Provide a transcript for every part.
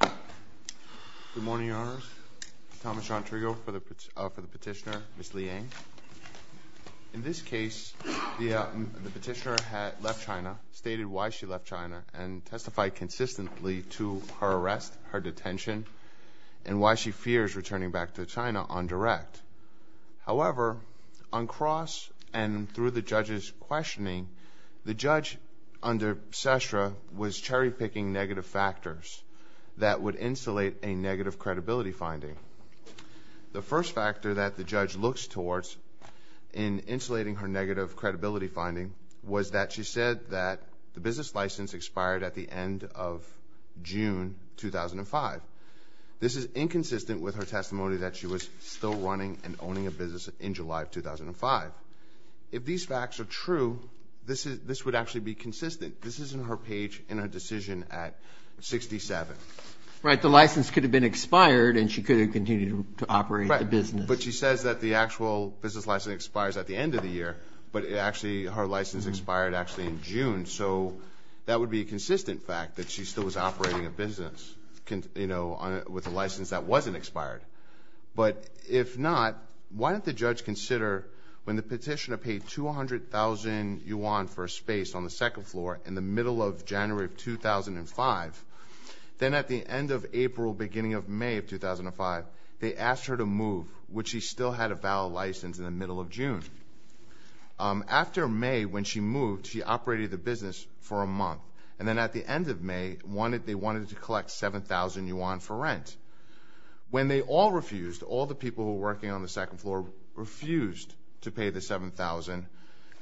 Good morning, Your Honors. Thomas John Trigo for the petitioner, Ms. Liang. In this case, the petitioner had left China, stated why she left China, and testified consistently to her arrest, her detention, and why she fears returning back to China on direct. However, on cross and through the judge's questioning, the judge, under CESRA, was cherry-picking negative factors that would insulate a negative credibility finding. The first factor that the judge looks towards in insulating her negative credibility finding was that she said that the business license expired at the end of June 2005. This is inconsistent with her testimony that she was still running and owning a business in July 2005. If these facts are true, this would actually be consistent. This is in her page in her decision at 67. Right, the license could have been expired, and she could have continued to operate the business. Right, but she says that the actual business license expires at the end of the year, but actually her license expired actually in June, so that would be a consistent fact that she still was operating a business with a license that wasn't expired. But if not, why didn't the judge consider when the petitioner paid 200,000 yuan for a space on the second floor in the middle of January 2005, then at the end of April, beginning of May 2005, they asked her to move, which she still had a valid license in the middle of June. After May, when she moved, she operated the business for a month, and then at the end of May, they wanted to collect 7,000 yuan for rent. When they all refused, all the people who were working on the second floor refused to pay the 7,000,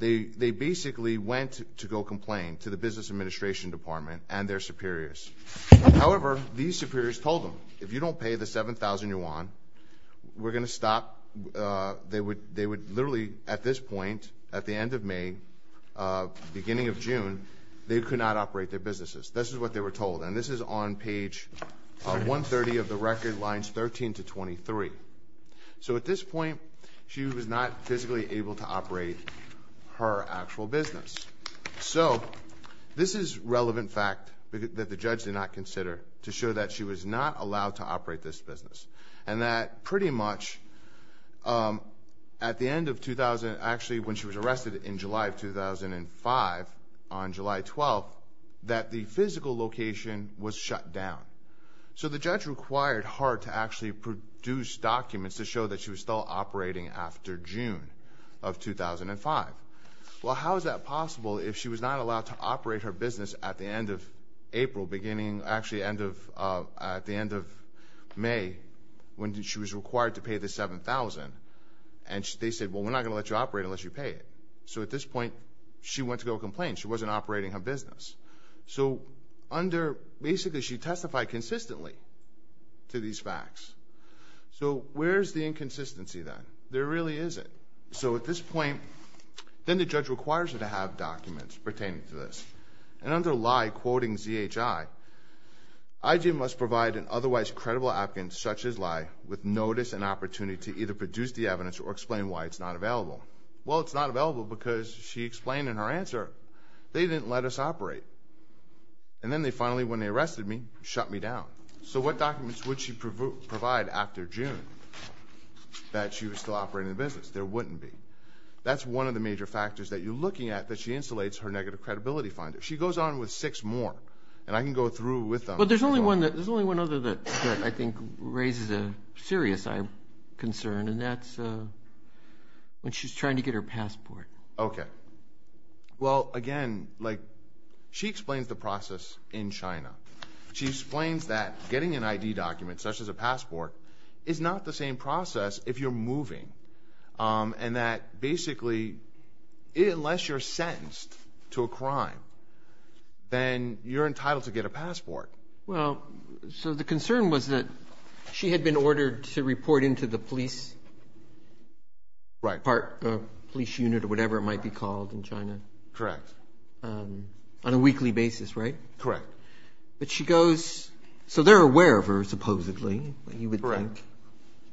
they basically went to go complain to the business administration department and their superiors. However, these superiors told them, if you don't pay the 7,000 yuan, we're going to stop. They would literally at this point, at the end of May, beginning of June, they could not operate their businesses. This is what they were told, and this is on page 130 of the record, lines 13 to 23. So at this point, she was not physically able to operate her actual business. So this is a relevant fact that the judge did not consider to show that she was not allowed to operate this business, and that pretty much at the end of 2000, actually when she was arrested in July of 2005, on July 12th, that the physical location was shut down. So the judge required Hart to actually produce documents to show that she was still operating after June of 2005. Well, how is that possible if she was not allowed to operate her business at the end of April, beginning, actually at the end of May, when she was required to pay the 7,000? And they said, well, we're not going to let you operate unless you pay it. So at this point, she went to go complain. She wasn't operating her business. So basically she testified consistently to these facts. So where's the inconsistency then? There really isn't. So at this point, then the judge requires her to have documents pertaining to this. And under Lye quoting ZHI, IG must provide an otherwise credible applicant such as Lye with notice and opportunity to either produce the evidence or explain why it's not available. Well, it's not available because she explained in her answer, they didn't let us operate. And then they finally, when they arrested me, shut me down. So what documents would she provide after June that she was still operating the business? There wouldn't be. That's one of the major factors that you're looking at that she insulates her negative credibility finder. She goes on with six more. And I can go through with them. But there's only one other that I think raises a serious concern, and that's when she's trying to get her passport. Okay. Well, again, she explains the process in China. She explains that getting an ID document such as a passport is not the same process if you're moving and that basically unless you're sentenced to a crime, then you're entitled to get a passport. Well, so the concern was that she had been ordered to report into the police part, the police unit or whatever it might be called in China. Correct. On a weekly basis, right? Correct. But she goes, so they're aware of her supposedly, you would think,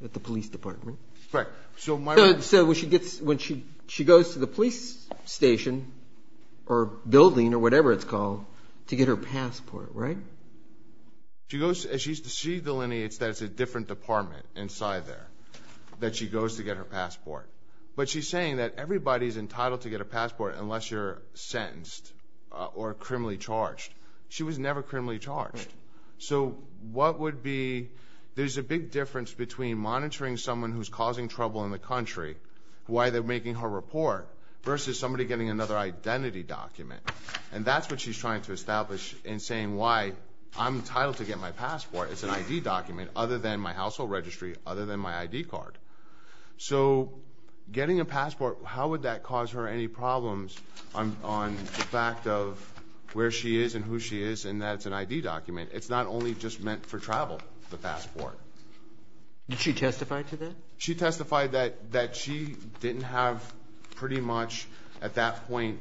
at the police department. Right. So when she goes to the police station or building or whatever it's called to get her passport, right? She goes and she delineates that it's a different department inside there that she goes to get her passport. But she's saying that everybody's entitled to get a passport unless you're sentenced or criminally charged. She was never criminally charged. So what would be, there's a big difference between monitoring someone who's causing trouble in the country, why they're making her report, versus somebody getting another identity document. And that's what she's trying to establish in saying why I'm entitled to get my passport. It's an ID document other than my household registry, other than my ID card. So getting a passport, how would that cause her any problems on the fact of where she is and who she is and that it's an ID document? It's not only just meant for travel, the passport. Did she testify to that? She testified that she didn't have pretty much at that point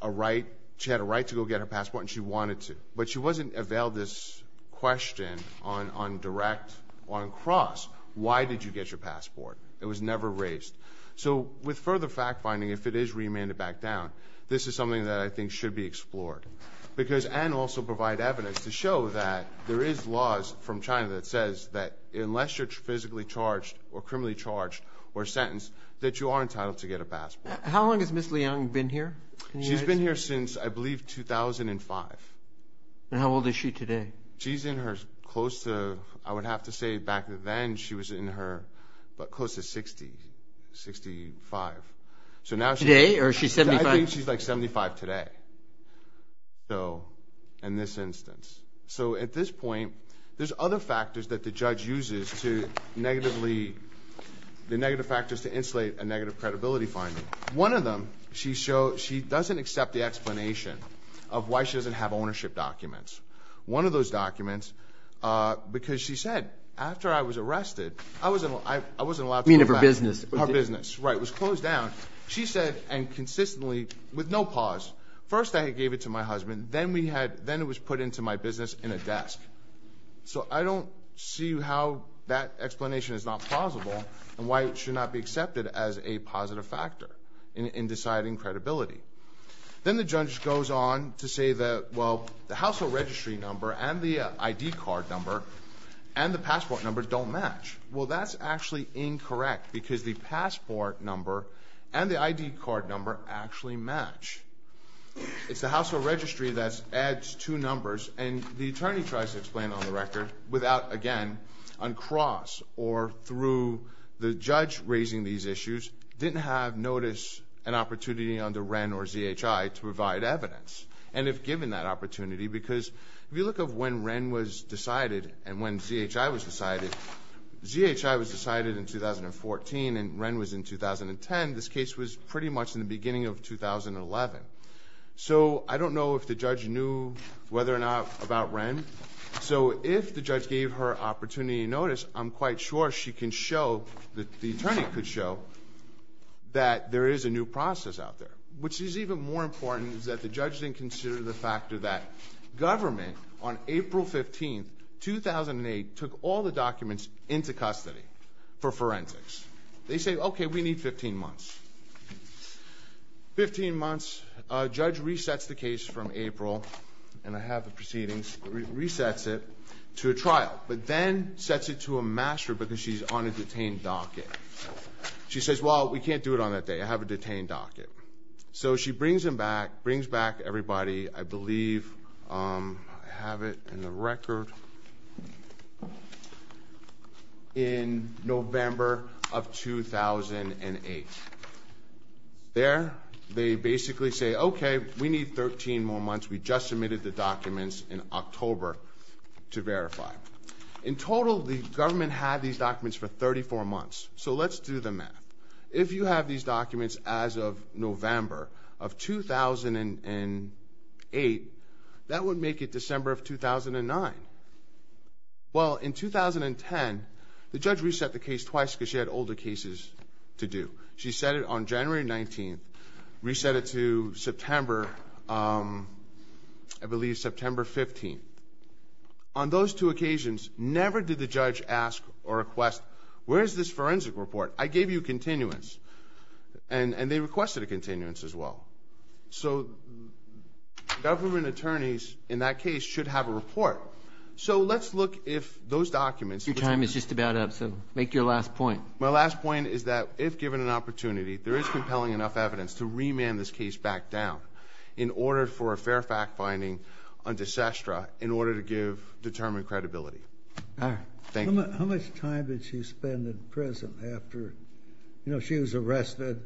a right, she had a right to go get her passport and she wanted to. But she wasn't availed this question on direct, on cross. Why did you get your passport? It was never raised. So with further fact finding, if it is remanded back down, this is something that I think should be explored. Because and also provide evidence to show that there is laws from China that says that unless you're physically charged or criminally charged or sentenced, that you are entitled to get a passport. How long has Ms. Liang been here? She's been here since I believe 2005. And how old is she today? She's in her close to, I would have to say back then she was in her close to 60, 65. Today or she's 75? I think she's like 75 today. So in this instance. So at this point, there's other factors that the judge uses to negatively, the negative factors to insulate a negative credibility finding. One of them, she doesn't accept the explanation of why she doesn't have ownership documents. One of those documents, because she said, after I was arrested, I wasn't allowed to go back. You mean of her business? Her business, right. It was closed down. She said, and consistently with no pause, first I gave it to my husband. Then we had, then it was put into my business in a desk. So I don't see how that explanation is not plausible and why it should not be accepted as a positive factor in deciding credibility. Then the judge goes on to say that, well, the household registry number and the ID card number and the passport number don't match. Well, that's actually incorrect because the passport number and the ID card number actually match. It's the household registry that adds two numbers, and the attorney tries to explain on the record without, again, uncross or through the judge raising these issues, didn't have notice and opportunity under Wren or ZHI to provide evidence. And if given that opportunity, because if you look at when Wren was decided and when ZHI was decided, ZHI was decided in 2014 and Wren was in 2010. This case was pretty much in the beginning of 2011. So I don't know if the judge knew whether or not about Wren. So if the judge gave her opportunity to notice, I'm quite sure she can show, the attorney could show, that there is a new process out there. Which is even more important is that the judge didn't consider the fact that government, on April 15, 2008, took all the documents into custody for forensics. They say, okay, we need 15 months. Fifteen months. Judge resets the case from April, and I have the proceedings, resets it to a trial, but then sets it to a master because she's on a detained docket. She says, well, we can't do it on that day. I have a detained docket. So she brings them back, brings back everybody, I believe, I have it in the record, in November of 2008. There, they basically say, okay, we need 13 more months. We just submitted the documents in October to verify. In total, the government had these documents for 34 months. So let's do the math. If you have these documents as of November of 2008, that would make it December of 2009. Well, in 2010, the judge reset the case twice because she had older cases to do. She set it on January 19, reset it to September, I believe, September 15. On those two occasions, never did the judge ask or request, where is this forensic report? I gave you a continuance, and they requested a continuance as well. So government attorneys in that case should have a report. So let's look if those documents. Your time is just about up, so make your last point. My last point is that if given an opportunity, there is compelling enough evidence to remand this case back down in order for a fair fact finding on de sestra in order to give determined credibility. How much time did she spend in prison after she was arrested?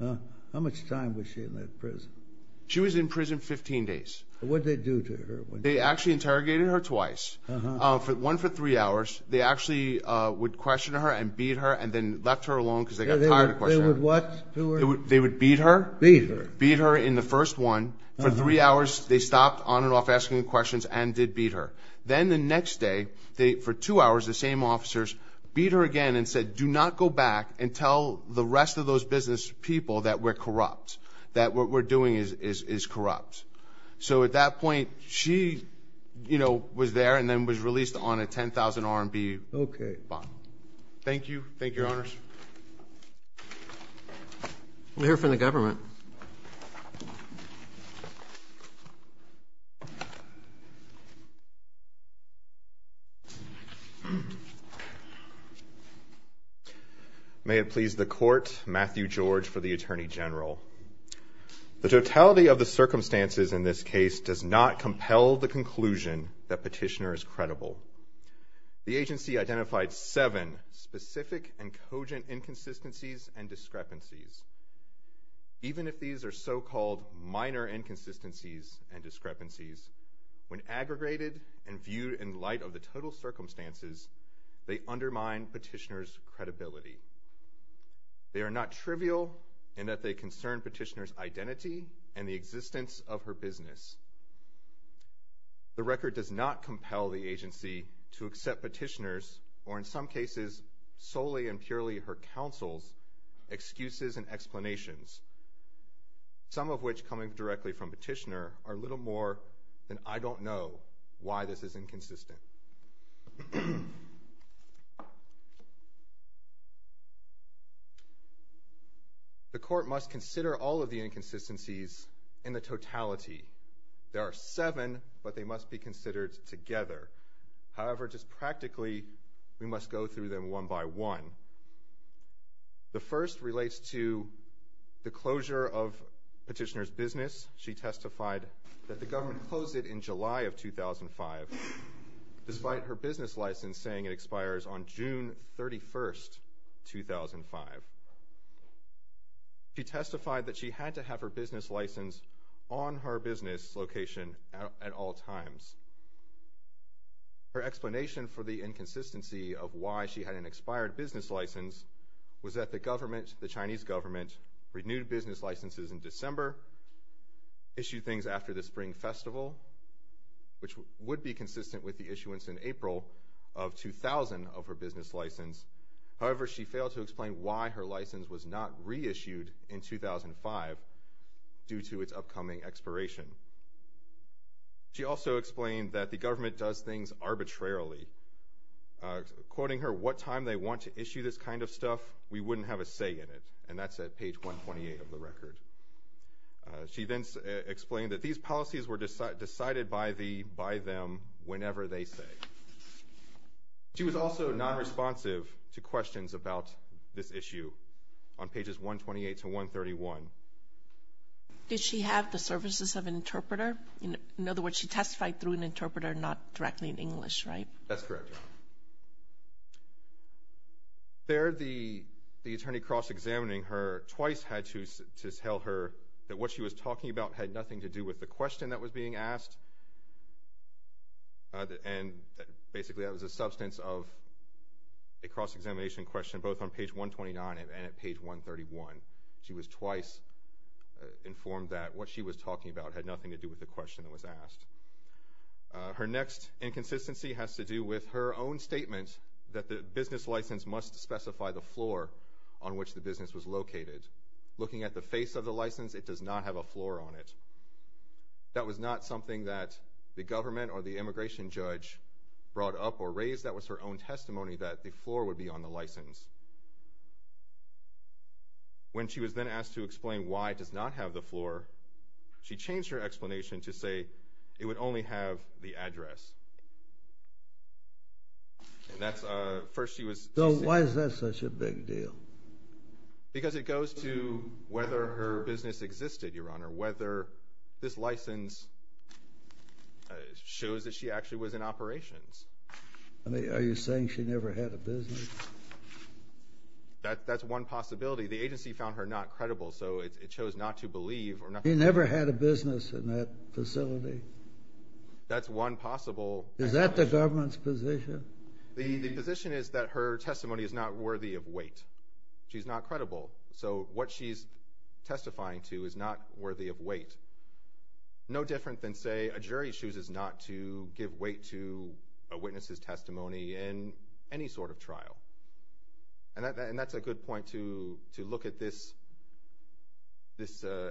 How much time was she in that prison? She was in prison 15 days. What did they do to her? They actually interrogated her twice, one for three hours. They actually would question her and beat her and then left her alone because they got tired of questioning her. They would what to her? They would beat her. Beat her. Beat her in the first one. For three hours, they stopped on and off asking questions and did beat her. Then the next day, for two hours, the same officers beat her again and said, do not go back and tell the rest of those business people that we're corrupt, that what we're doing is corrupt. So at that point, she was there and then was released on a 10,000 RMB fine. Thank you, Your Honors. We'll hear from the government. May it please the Court, Matthew George for the Attorney General. The totality of the circumstances in this case does not compel the conclusion that Petitioner is credible. The agency identified seven specific and cogent inconsistencies and discrepancies. Even if these are so-called minor inconsistencies and discrepancies, when aggregated and viewed in light of the total circumstances, they undermine Petitioner's credibility. They are not trivial in that they concern Petitioner's identity and the existence of her business. The record does not compel the agency to accept Petitioner's, or in some cases solely and purely her counsel's, excuses and explanations, some of which coming directly from Petitioner, are little more than I don't know why this is inconsistent. The Court must consider all of the inconsistencies in the totality. There are seven, but they must be considered together. However, just practically, we must go through them one by one. The first relates to the closure of Petitioner's business. She testified that the government closed it in July of 2005. Despite her business license saying it expires on June 31, 2005. She testified that she had to have her business license on her business location at all times. Her explanation for the inconsistency of why she had an expired business license was that the government, the Chinese government, renewed business licenses in December, issued things after the Spring Festival, which would be consistent with the issuance in April of 2000 of her business license. However, she failed to explain why her license was not reissued in 2005 due to its upcoming expiration. She also explained that the government does things arbitrarily. Quoting her, what time they want to issue this kind of stuff, we wouldn't have a say in it. And that's at page 128 of the record. She then explained that these policies were decided by them whenever they say. She was also nonresponsive to questions about this issue on pages 128 to 131. Did she have the services of an interpreter? In other words, she testified through an interpreter, not directly in English, right? That's correct. There, the attorney cross-examining her twice had to tell her that what she was talking about had nothing to do with the question that was being asked. And basically, that was a substance of a cross-examination question both on page 129 and at page 131. She was twice informed that what she was talking about had nothing to do with the question that was asked. Her next inconsistency has to do with her own statement that the business license must specify the floor on which the business was located. Looking at the face of the license, it does not have a floor on it. That was not something that the government or the immigration judge brought up or raised. That was her own testimony that the floor would be on the license. When she was then asked to explain why it does not have the floor, she changed her explanation to say it would only have the address. So why is that such a big deal? Because it goes to whether her business existed, Your Honor, whether this license shows that she actually was in operations. Are you saying she never had a business? That's one possibility. Actually, the agency found her not credible, so it chose not to believe. She never had a business in that facility? That's one possible. Is that the government's position? The position is that her testimony is not worthy of weight. She's not credible. So what she's testifying to is not worthy of weight. No different than, say, a jury chooses not to give weight to a witness's testimony in any sort of trial. And that's a good point to look at this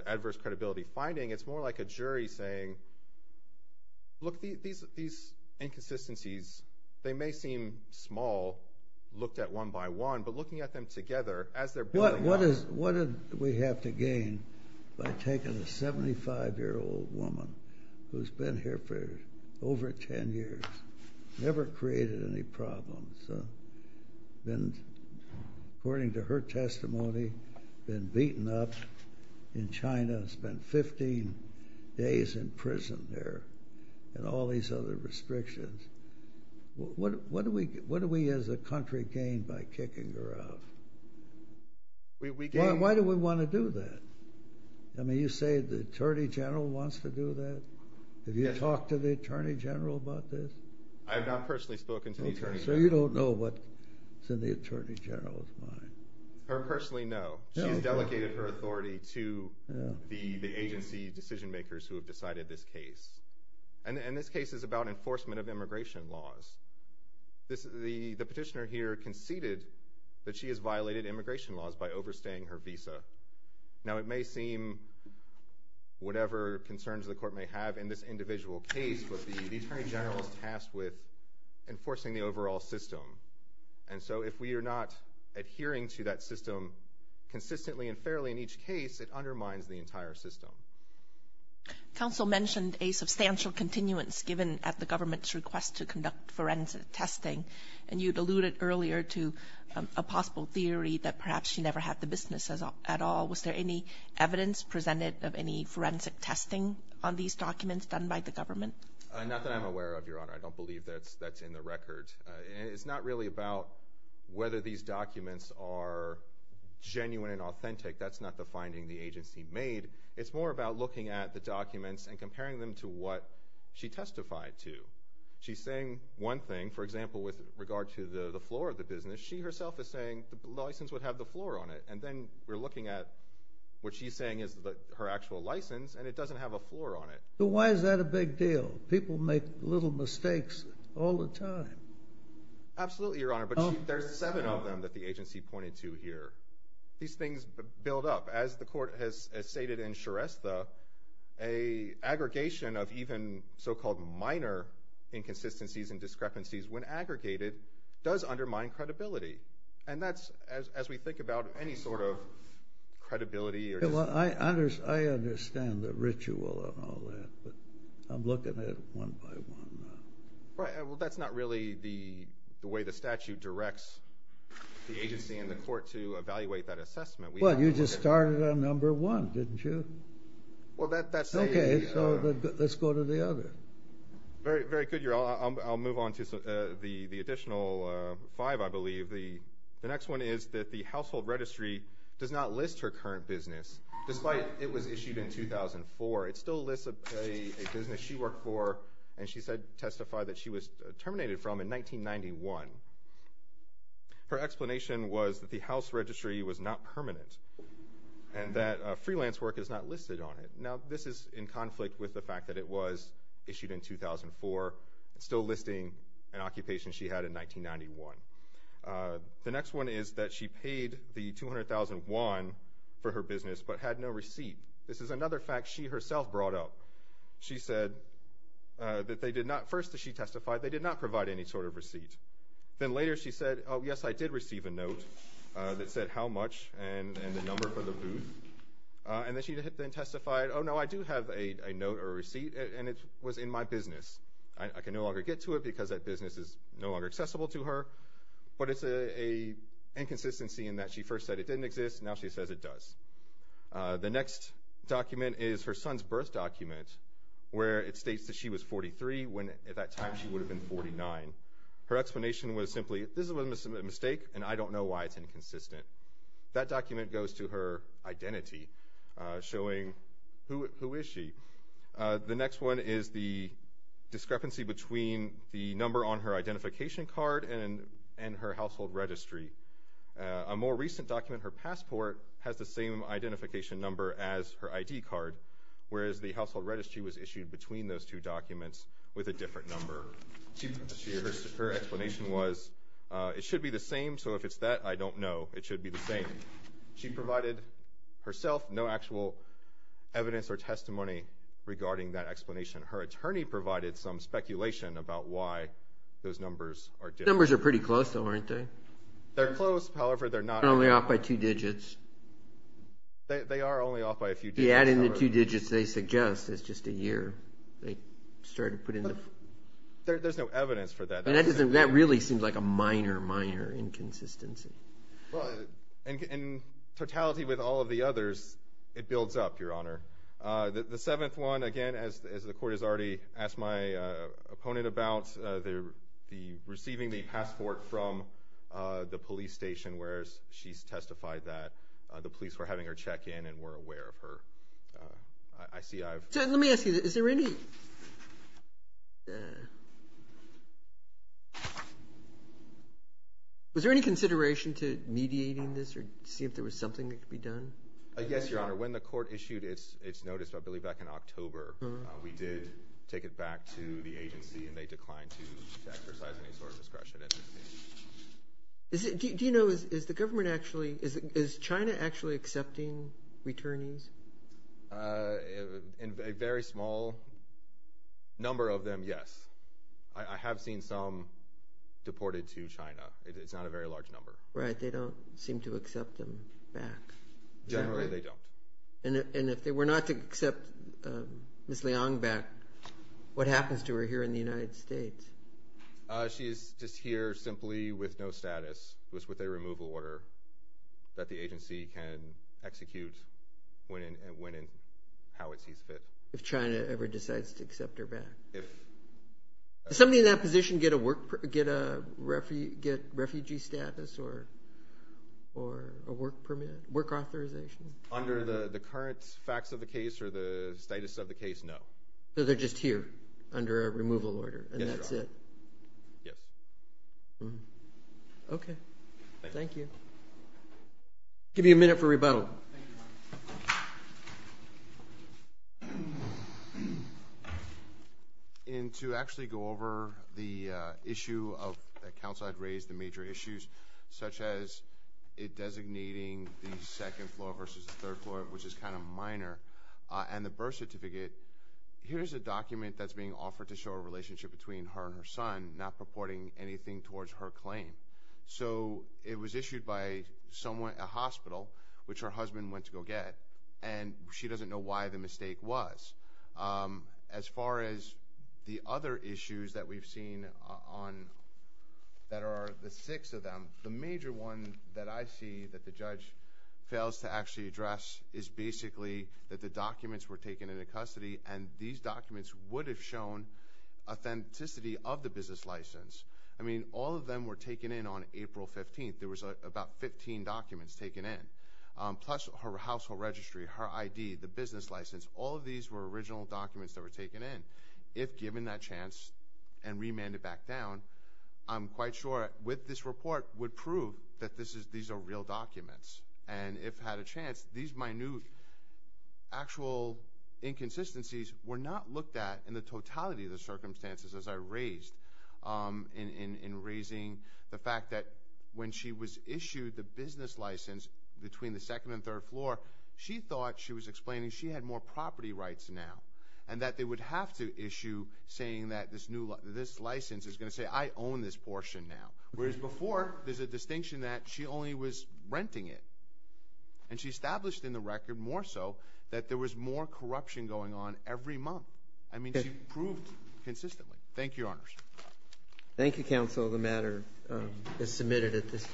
adverse credibility finding. It's more like a jury saying, look, these inconsistencies, they may seem small, looked at one by one, but looking at them together as they're building up. What did we have to gain by taking a 75-year-old woman who's been here for over 10 years, never created any problems, been, according to her testimony, been beaten up in China, spent 15 days in prison there, and all these other restrictions. What do we as a country gain by kicking her out? Why do we want to do that? I mean, you say the Attorney General wants to do that? Have you talked to the Attorney General about this? I have not personally spoken to the Attorney General. So you don't know what's in the Attorney General's mind? Her personally, no. She has delegated her authority to the agency decision-makers who have decided this case. And this case is about enforcement of immigration laws. The petitioner here conceded that she has violated immigration laws by overstaying her visa. Now, it may seem whatever concerns the court may have in this individual case, but the Attorney General is tasked with enforcing the overall system. And so if we are not adhering to that system consistently and fairly in each case, it undermines the entire system. Counsel mentioned a substantial continuance given at the government's request to conduct forensic testing, and you alluded earlier to a possible theory that perhaps she never had the business at all. Was there any evidence presented of any forensic testing on these documents done by the government? Not that I'm aware of, Your Honor. I don't believe that's in the record. It's not really about whether these documents are genuine and authentic. That's not the finding the agency made. It's more about looking at the documents and comparing them to what she testified to. She's saying one thing, for example, with regard to the floor of the business. She herself is saying the license would have the floor on it, and then we're looking at what she's saying is her actual license, and it doesn't have a floor on it. So why is that a big deal? People make little mistakes all the time. Absolutely, Your Honor, but there's seven of them that the agency pointed to here. These things build up. As the Court has stated in Shrestha, an aggregation of even so-called minor inconsistencies and discrepancies when aggregated does undermine credibility, and that's as we think about any sort of credibility. I understand the ritual and all that, but I'm looking at it one by one. Well, that's not really the way the statute directs the agency and the Court to evaluate that assessment. Well, you just started on number one, didn't you? Okay, so let's go to the other. Very good, Your Honor. I'll move on to the additional five, I believe. The next one is that the Household Registry does not list her current business, despite it was issued in 2004. It still lists a business she worked for, and she testified that she was terminated from in 1991. Her explanation was that the House Registry was not permanent and that freelance work is not listed on it. Now, this is in conflict with the fact that it was issued in 2004. It's still listing an occupation she had in 1991. The next one is that she paid the 200,000 yuan for her business but had no receipt. This is another fact she herself brought up. She said that they did not—first she testified they did not provide any sort of receipt. Then later she said, oh, yes, I did receive a note that said how much and the number for the booth. And then she testified, oh, no, I do have a note or receipt, and it was in my business. I can no longer get to it because that business is no longer accessible to her. But it's an inconsistency in that she first said it didn't exist. Now she says it does. The next document is her son's birth document, where it states that she was 43 when at that time she would have been 49. Her explanation was simply, this is a mistake, and I don't know why it's inconsistent. That document goes to her identity, showing who is she. The next one is the discrepancy between the number on her identification card and her household registry. A more recent document, her passport, has the same identification number as her ID card, whereas the household registry was issued between those two documents with a different number. Her explanation was, it should be the same, so if it's that, I don't know, it should be the same. She provided herself no actual evidence or testimony regarding that explanation. Her attorney provided some speculation about why those numbers are different. Those numbers are pretty close, though, aren't they? They're close, however, they're not very close. They're only off by two digits. They are only off by a few digits, however. If you add in the two digits they suggest, it's just a year. There's no evidence for that. That really seems like a minor, minor inconsistency. In totality with all of the others, it builds up, Your Honor. The seventh one, again, as the Court has already asked my opponent about, the receiving the passport from the police station, whereas she's testified that the police were having her check in and were aware of her ICI. Let me ask you, is there any consideration to mediating this or see if there was something that could be done? Yes, Your Honor. When the Court issued its notice, I believe back in October, we did take it back to the agency and they declined to exercise any sort of discretion in this case. Do you know, is the government actually, is China actually accepting returnees? A very small number of them, yes. I have seen some deported to China. It's not a very large number. Right, they don't seem to accept them back. Generally, they don't. And if they were not to accept Ms. Liang back, what happens to her here in the United States? She is just here simply with no status, with a removal order that the agency can execute when and how it sees fit. If China ever decides to accept her back. If. Does anybody in that position get a refugee status or a work permit, work authorization? Under the current facts of the case or the status of the case, no. So they're just here under a removal order and that's it? Yes, Your Honor. Yes. Okay. Thank you. I'll give you a minute for rebuttal. Thank you, Your Honor. And to actually go over the issue that counsel had raised, the major issues, such as it designating the second floor versus the third floor, which is kind of minor, and the birth certificate. Here's a document that's being offered to show a relationship between her and her son, not purporting anything towards her claim. So it was issued by someone at a hospital, which her husband went to go get, and she doesn't know why the mistake was. As far as the other issues that we've seen that are the six of them, the major one that I see that the judge fails to actually address is basically that the documents were taken into custody, and these documents would have shown authenticity of the business license. I mean, all of them were taken in on April 15th. There was about 15 documents taken in, plus her household registry, her ID, the business license. All of these were original documents that were taken in. If given that chance and remanded back down, I'm quite sure with this report would prove that these are real documents. And if had a chance, these minute actual inconsistencies were not looked at in the totality of the circumstances as I raised, in raising the fact that when she was issued the business license between the second and third floor, she thought she was explaining she had more property rights now, and that they would have to issue saying that this license is going to say, I own this portion now. Whereas before, there's a distinction that she only was renting it. And she established in the record more so that there was more corruption going on every month. I mean, she proved consistently. Thank you, Your Honors. Thank you, Counsel. The matter is submitted at this time.